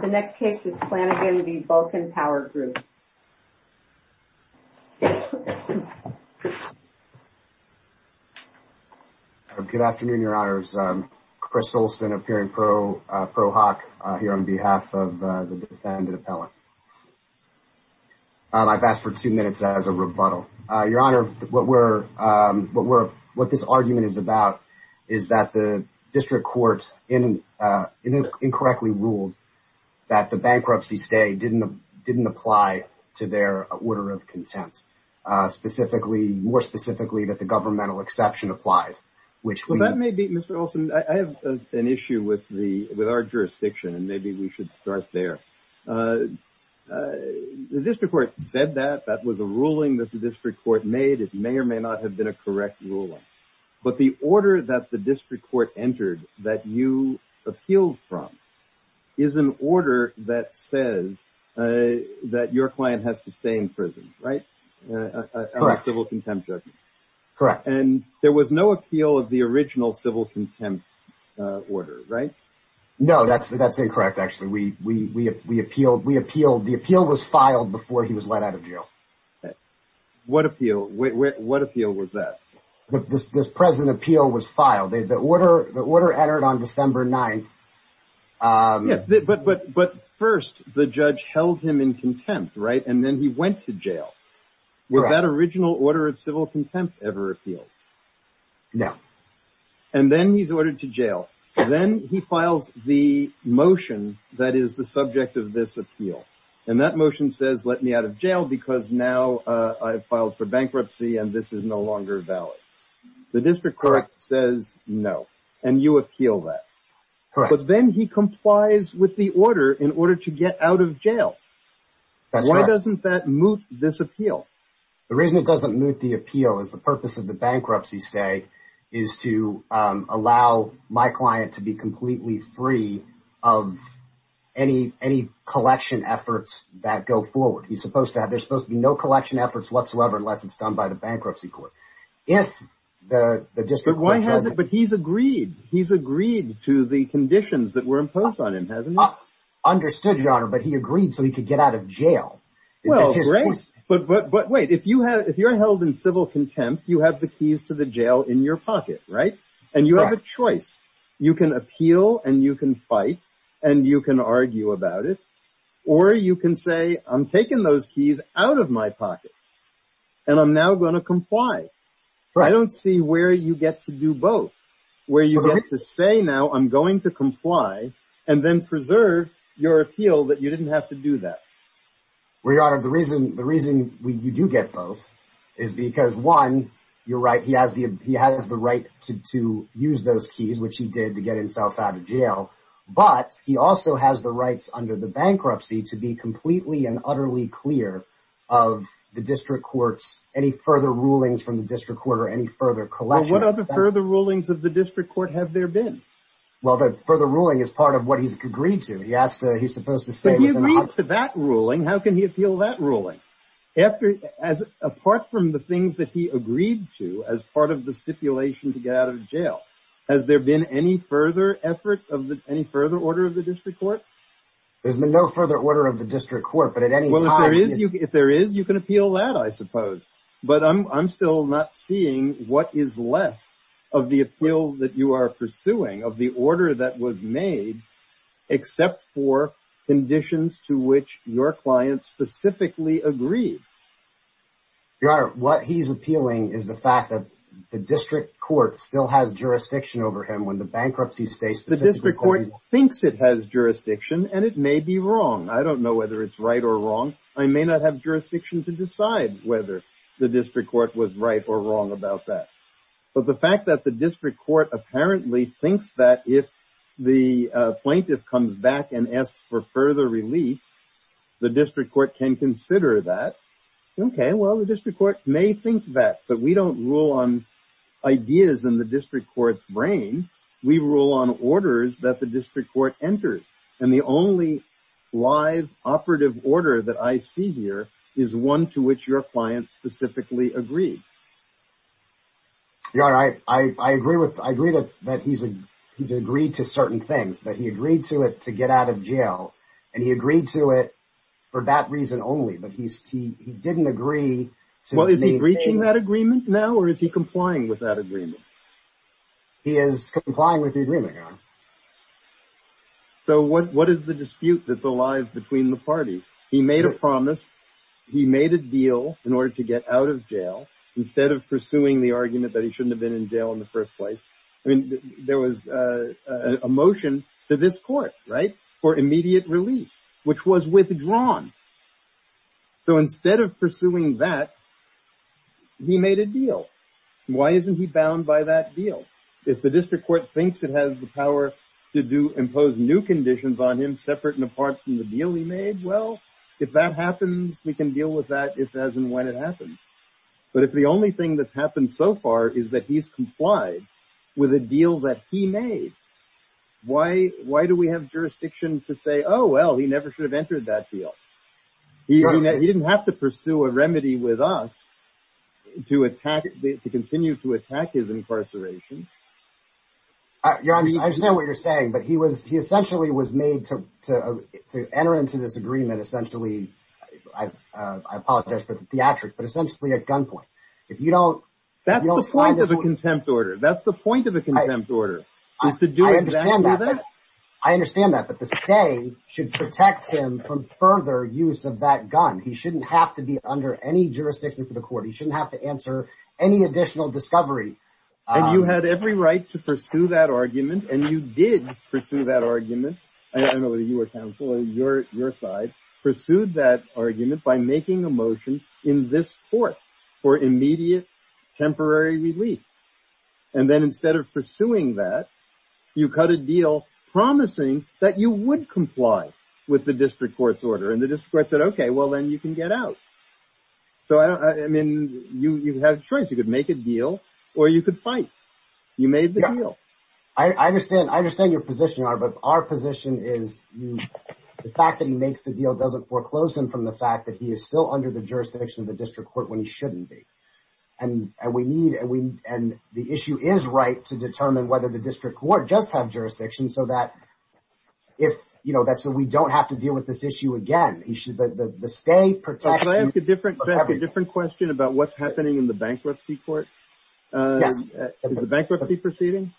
The next case is Flannigan v. Vulcan Power Group. Good afternoon, Your Honors. Chris Olson, appearing pro hoc here on behalf of the defendant appellate. I've asked for two minutes as a rebuttal. Your Honor, what this argument is about is that the district court incorrectly ruled that the bankruptcy stay didn't apply to their order of contempt. More specifically, that the governmental exception applied. I have an issue with our jurisdiction, and maybe we should start there. The district court said that. That was a ruling that the district court made. It may or may not have been a correct ruling, but the order that the district court entered that you appealed from is an order that says that your client has to stay in prison, right? Correct. On a civil contempt judgment. Correct. And there was no appeal of the original civil contempt order, right? No, that's incorrect, actually. The appeal was filed before he was let out of jail. Okay. What appeal? What appeal was that? This present appeal was filed. The order entered on December 9th. Yes, but first the judge held him in contempt, right? And then he went to jail. Was that original order of civil contempt ever appealed? No. And then he's ordered to jail. Then he files the motion that is the subject of this appeal. And that motion says let me out of jail because now I've filed for bankruptcy and this is no longer valid. The district court says no, and you appeal that. But then he complies with the order in order to get out of jail. Why doesn't that moot this appeal? The reason it doesn't moot the appeal is the purpose of the bankruptcy stay is to allow my client to be completely free of any collection efforts that go forward. He's supposed to have, there's supposed to be no collection efforts whatsoever unless it's done by the bankruptcy court. If the district court- But why hasn't, but he's agreed. He's agreed to the conditions that were imposed on him, hasn't he? Understood, your honor, but he agreed so he could get out of jail. Well, great. But wait, if you're held in civil contempt, you have the keys to the pocket, right? And you have a choice. You can appeal and you can fight and you can argue about it. Or you can say, I'm taking those keys out of my pocket and I'm now going to comply. I don't see where you get to do both, where you get to say now I'm going to comply and then preserve your appeal that you didn't have to do that. Well, your honor, the reason you do get both is because one, you're right, he has the right to use those keys, which he did to get himself out of jail. But he also has the rights under the bankruptcy to be completely and utterly clear of the district court's, any further rulings from the district court or any further collection- Well, what other further rulings of the district court have there been? Well, the further ruling is part of what he's agreed to. He has to, he's supposed to say- How can he appeal that ruling? Apart from the things that he agreed to as part of the stipulation to get out of jail, has there been any further effort of the, any further order of the district court? There's been no further order of the district court, but at any time- Well, if there is, you can appeal that, I suppose. But I'm still not seeing what is left of the appeal that you are pursuing, of the order that was made, except for conditions to which your client specifically agreed. Your honor, what he's appealing is the fact that the district court still has jurisdiction over him when the bankruptcy states- The district court thinks it has jurisdiction and it may be wrong. I don't know whether it's right or wrong. I may not have jurisdiction to decide whether the district court was right or wrong about that. But the fact that the if the plaintiff comes back and asks for further relief, the district court can consider that, okay, well, the district court may think that, but we don't rule on ideas in the district court's brain. We rule on orders that the district court enters. And the only live operative order that I see here is one to which your client specifically agreed. Your honor, I agree that he's agreed to certain things, but he agreed to it to get out of jail, and he agreed to it for that reason only. But he didn't agree to- Well, is he breaching that agreement now, or is he complying with that agreement? He is complying with the agreement, your honor. So what is the dispute that's alive between the parties? He made a promise, he made a deal in order to get out of jail instead of pursuing the argument that he shouldn't have been in jail in the first place. I mean, there was a motion to this court, right, for immediate release, which was withdrawn. So instead of pursuing that, he made a deal. Why isn't he bound by that deal? If the district court thinks it has the power to impose new conditions on him separate and apart from the deal he made, well, if that happens, we can deal with that as and when it happens. But if the only thing that's happened so far is that he's complied with a deal that he made, why do we have jurisdiction to say, oh, well, he never should have entered that deal? He didn't have to pursue a remedy with us to continue to attack his incarceration. Your honor, I understand what you're saying, but he essentially was made to enter into this agreement essentially, I apologize for the theatric, but essentially at gunpoint. That's the point of a contempt order. That's the point of a contempt order, is to do exactly that. I understand that, but the state should protect him from further use of that gun. He shouldn't have to be under any jurisdiction for the court. He shouldn't have to answer any additional discovery. And you had every right to pursue that argument. And you did pursue that argument. I don't know whether you were counsel or your side pursued that argument by making a motion in this court for immediate temporary relief. And then instead of pursuing that, you cut a deal promising that you would comply with the district court's order. And the district court said, OK, well, then you can get out. So, I mean, you had a choice. You could make a deal or you could fight. You made the deal. I understand your position, your honor, but our position is the fact that he makes the deal doesn't foreclose him from the fact that he is still under the jurisdiction of the district court when he shouldn't be. And the issue is right to determine whether the district court does have jurisdiction so that we don't have to deal with this issue again. The state protection. Can I ask a different question about what's happening in the bankruptcy court? Yes. Is the bankruptcy proceeding?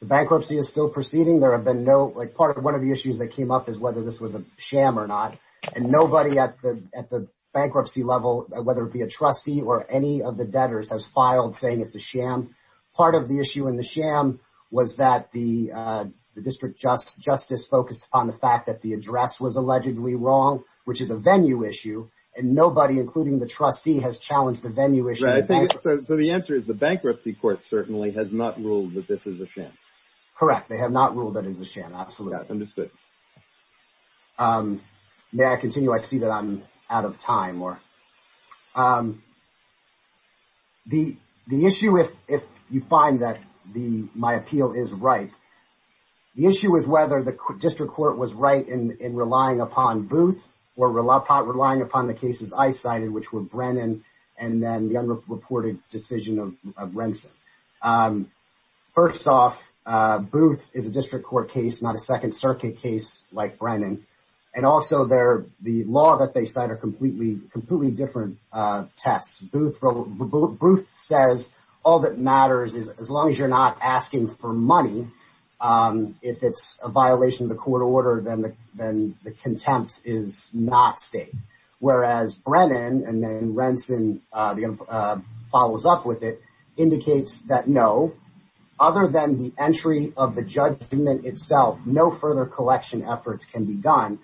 The bankruptcy is still proceeding. There have been no like part of one of the issues that came up is whether this was a sham or not. And nobody at the bankruptcy level, whether it be a trustee or any of the debtors, has filed saying it's a sham. Part of the issue in the sham was that the district justice focused on the fact that the which is a venue issue and nobody, including the trustee, has challenged the venue issue. So the answer is the bankruptcy court certainly has not ruled that this is a sham. Correct. They have not ruled that it is a sham. Absolutely understood. May I continue? I see that I'm out of time. The issue, if you find that my appeal is right, the issue is whether the district court was right in relying upon Booth or relying upon the cases I cited, which were Brennan and then the unreported decision of Renson. First off, Booth is a district court case, not a Second Circuit case like Brennan. And also the law that they cite are completely different tests. Booth says all that matters is as long as you're not asking for money, if it's a violation of the court order, then the contempt is not stated. Whereas Brennan and then Renson follows up with it, indicates that no, other than the entry of the judgment itself, no further collection efforts can be done.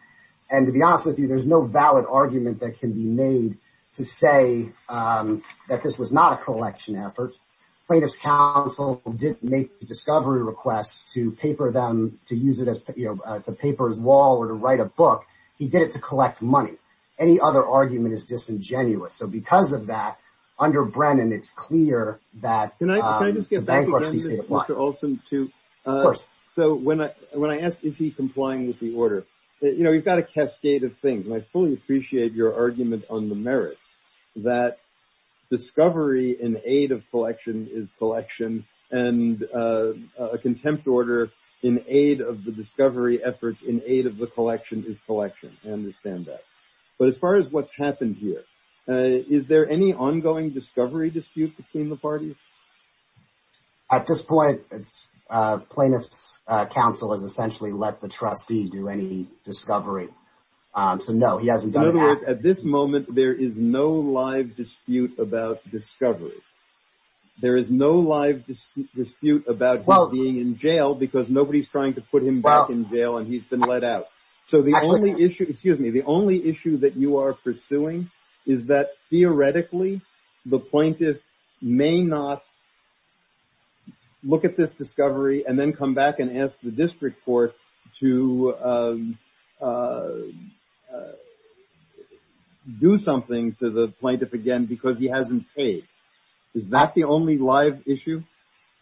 And to be honest with you, there's no valid argument that can be made to say that this was not a collection effort. Plaintiff's counsel didn't make discovery requests to paper them, to use it as the paper's wall or to write a book. He did it to collect money. Any other argument is disingenuous. So because of that, under Brennan, it's clear that- Can I just get back to Brennan and also to- Of course. So when I asked, is he complying with the order? You've got a cascade of things. And I fully appreciate your argument on the merits that discovery in aid of collection is collection and a contempt order in aid of the discovery efforts in aid of the collection is collection. I understand that. But as far as what's happened here, is there any ongoing discovery dispute between the parties? At this point, plaintiff's counsel has essentially let the trustee do any discovery. So no, he hasn't done that. In other words, at this moment, there is no live dispute about discovery. There is no live dispute about being in jail because nobody's trying to put him back in jail and he's been let out. So the only issue, excuse me, the only issue that you are pursuing is that theoretically, the plaintiff may not look at this discovery and then come back and ask the district court to do something to the plaintiff again because he hasn't paid. Is that the only live issue?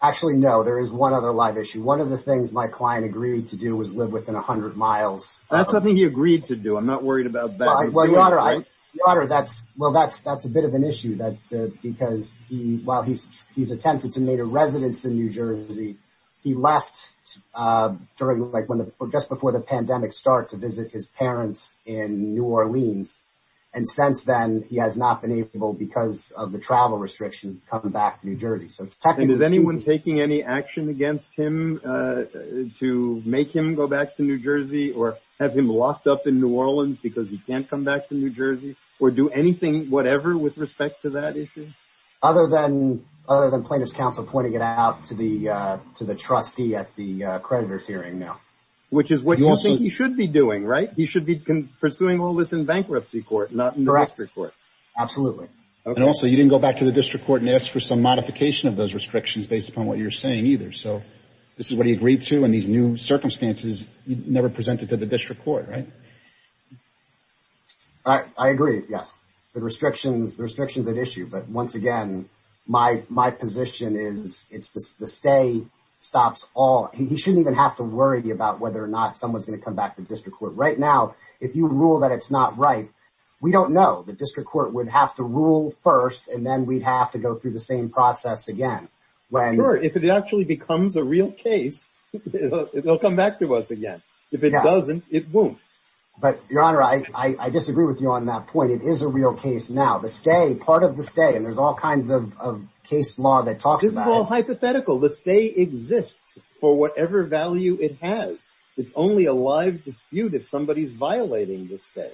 Actually, no. There is one other live issue. One of the things my client agreed to do was live within a hundred miles. That's something he agreed to do. I'm not worried about that. Well, Your Honor, that's a bit of an issue because while he's attempted to make a residence in New Orleans, just before the pandemic started, to visit his parents in New Orleans. And since then, he has not been able, because of the travel restrictions, to come back to New Jersey. And is anyone taking any action against him to make him go back to New Jersey or have him locked up in New Orleans because he can't come back to New Jersey or do anything, whatever, with respect to that issue? Other than plaintiff's counsel pointing it out to the trustee at the creditor's hearing now. Which is what you think he should be doing, right? He should be pursuing all this in bankruptcy court, not in the district court. Correct. Absolutely. And also, you didn't go back to the district court and ask for some modification of those restrictions based upon what you're saying either. So this is what he agreed to in these new circumstances. You never presented to the district court, right? I agree, yes. The restrictions are an issue. But once again, my position is the stay stops all. He shouldn't even have to worry about whether or not someone's going to come back to district court. Right now, if you rule that it's not right, we don't know. The district court would have to rule first, and then we'd have to go through the same process again. Sure. If it actually becomes a real case, it'll come back to us again. If it doesn't, it won't. But your honor, I disagree with you on that point. It is a real case now. The stay, part of the stay, and there's all kinds of case law that talks about it. This is all hypothetical. The stay exists for whatever value it has. It's only a live dispute if somebody's violating the stay.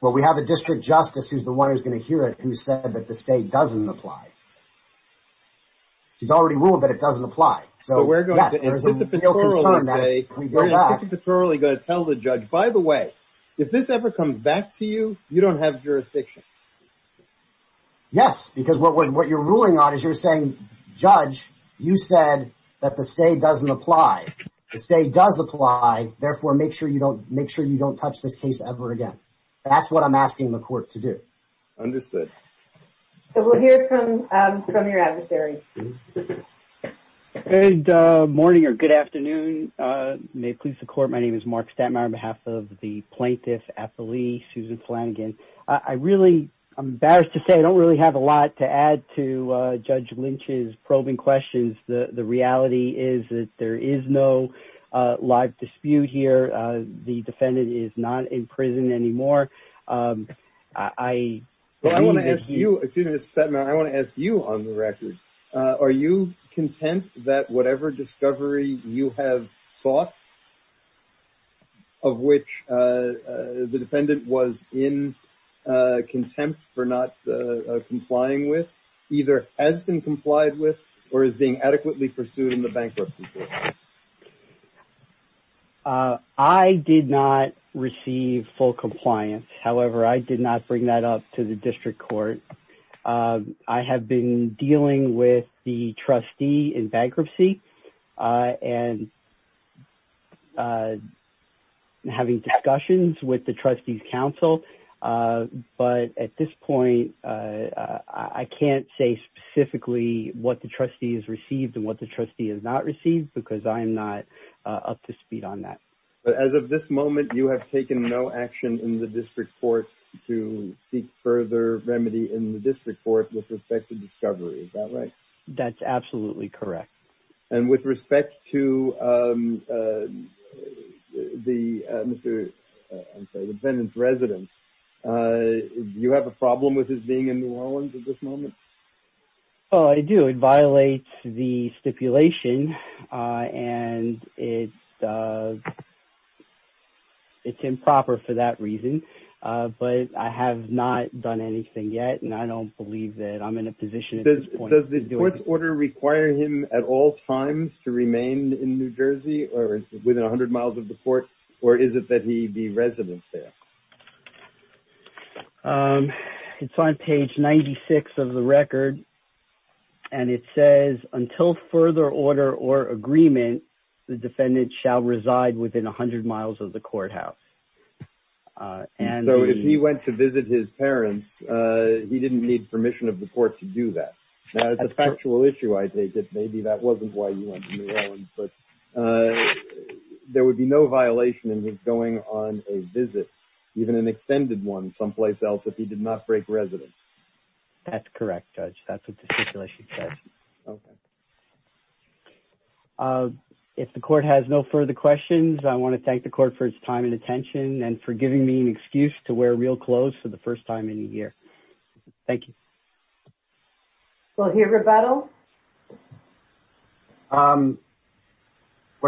Well, we have a district justice who's the one who's going to hear it who said that the stay doesn't apply. He's already ruled that it doesn't apply. We're going to anticipatorily say, we're anticipatorily going to tell the judge, by the way, if this ever comes back to you, you don't have jurisdiction. Yes, because what you're ruling on is you're saying, judge, you said that the stay doesn't apply. The stay does apply. Therefore, make sure you don't touch this case ever again. That's what I'm asking the court to do. Understood. We'll hear from your adversary. Good morning or good afternoon. May it please the court, my name is Mark Stattmeyer on behalf of the plaintiff at the Lee, Susan Flanagan. I'm embarrassed to say, I don't really have a lot to add to Judge Lynch's probing questions. The reality is that there is no live dispute here. The defendant is not in prison anymore. I want to ask you, excuse me, Mr. Stattmeyer, I want to ask you on the record, are you content that whatever discovery you have sought, of which the defendant was in contempt for not complying with, either has been complied with or is being adequately pursued in the bankruptcy case? I did not receive full compliance. However, I did not bring that up to the district court. I have been dealing with the trustee in bankruptcy and having discussions with the trustee's counsel. But at this point, I can't say specifically what the trustee has received and what the trustee has not received because I am not up to speed on that. But as of this moment, you have taken no action in the district court to seek further remedy in the district court with respect to discovery. Is that right? That's absolutely correct. And with respect to the defendant's residence, you have a problem with his being in New Orleans at this moment? Oh, I do. It violates the stipulation and it's improper for that reason. But I have not done anything yet. And I don't believe that I'm in a position at this point. Does the court's order require him at all times to remain in New Jersey or within 100 miles of the court? Or is it that he be resident there? It's on page 96 of the record. And it says until further order or agreement, the defendant shall reside within 100 miles of the courthouse. And so if he went to visit his parents, he didn't need permission of the court to do that. Now, it's a factual issue, I take it. Maybe that wasn't why he went to New Orleans. But there would be no violation in his going on a visit, even an extended one someplace else, if he did not break residence. That's correct, Judge. That's what the stipulation says. Okay. If the court has no further questions, I want to thank the court for its time and attention and for giving me an excuse to wear real clothes for the first time in a year. Thank you. We'll hear rebuttal. Well,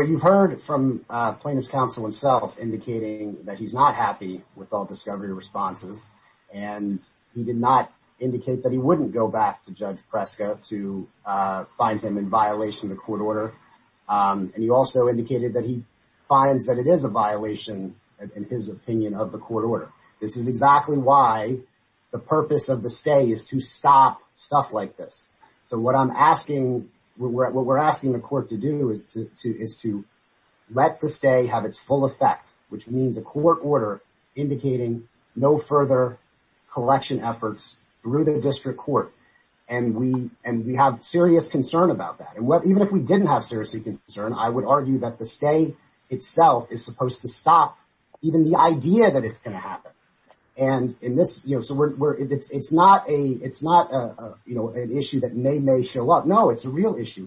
you've heard from plaintiff's counsel himself indicating that he's not happy with all discovery responses. And he did not indicate that he wouldn't go back to Judge Preska to find him in violation of the court order. And he also indicated that he finds that it is a violation, in his opinion, of the court order. This is exactly why the purpose of the stay is to stop stuff like this. So what I'm asking, what we're asking the court to do is to let the stay have its full effect, which means a court order indicating no further collection efforts through the district court. And we have serious concern about that. And even if we didn't have serious concern, I would argue that the stay itself is supposed to stop even the idea that it's going to happen. And it's not an issue that may show up. No, it's a real issue.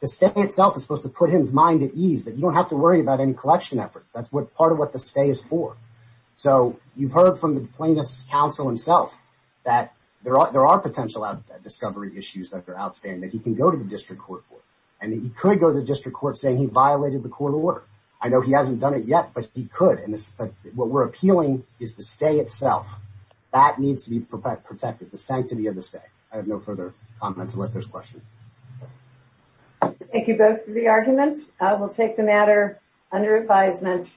The stay itself is supposed to put his mind at ease that you don't have to worry about any collection efforts. That's part of what the stay is for. So you've heard from the plaintiff's counsel himself that there are potential discovery issues that are outstanding that he can go to the district court for. And that he could go to the district court saying he violated the court order. I know he hasn't done it yet, but he could. And what we're appealing is the stay itself. That needs to be protected, the sanctity of the stay. I have no further comments unless there's questions. Thank you both for the argument. I will take the matter under advisement.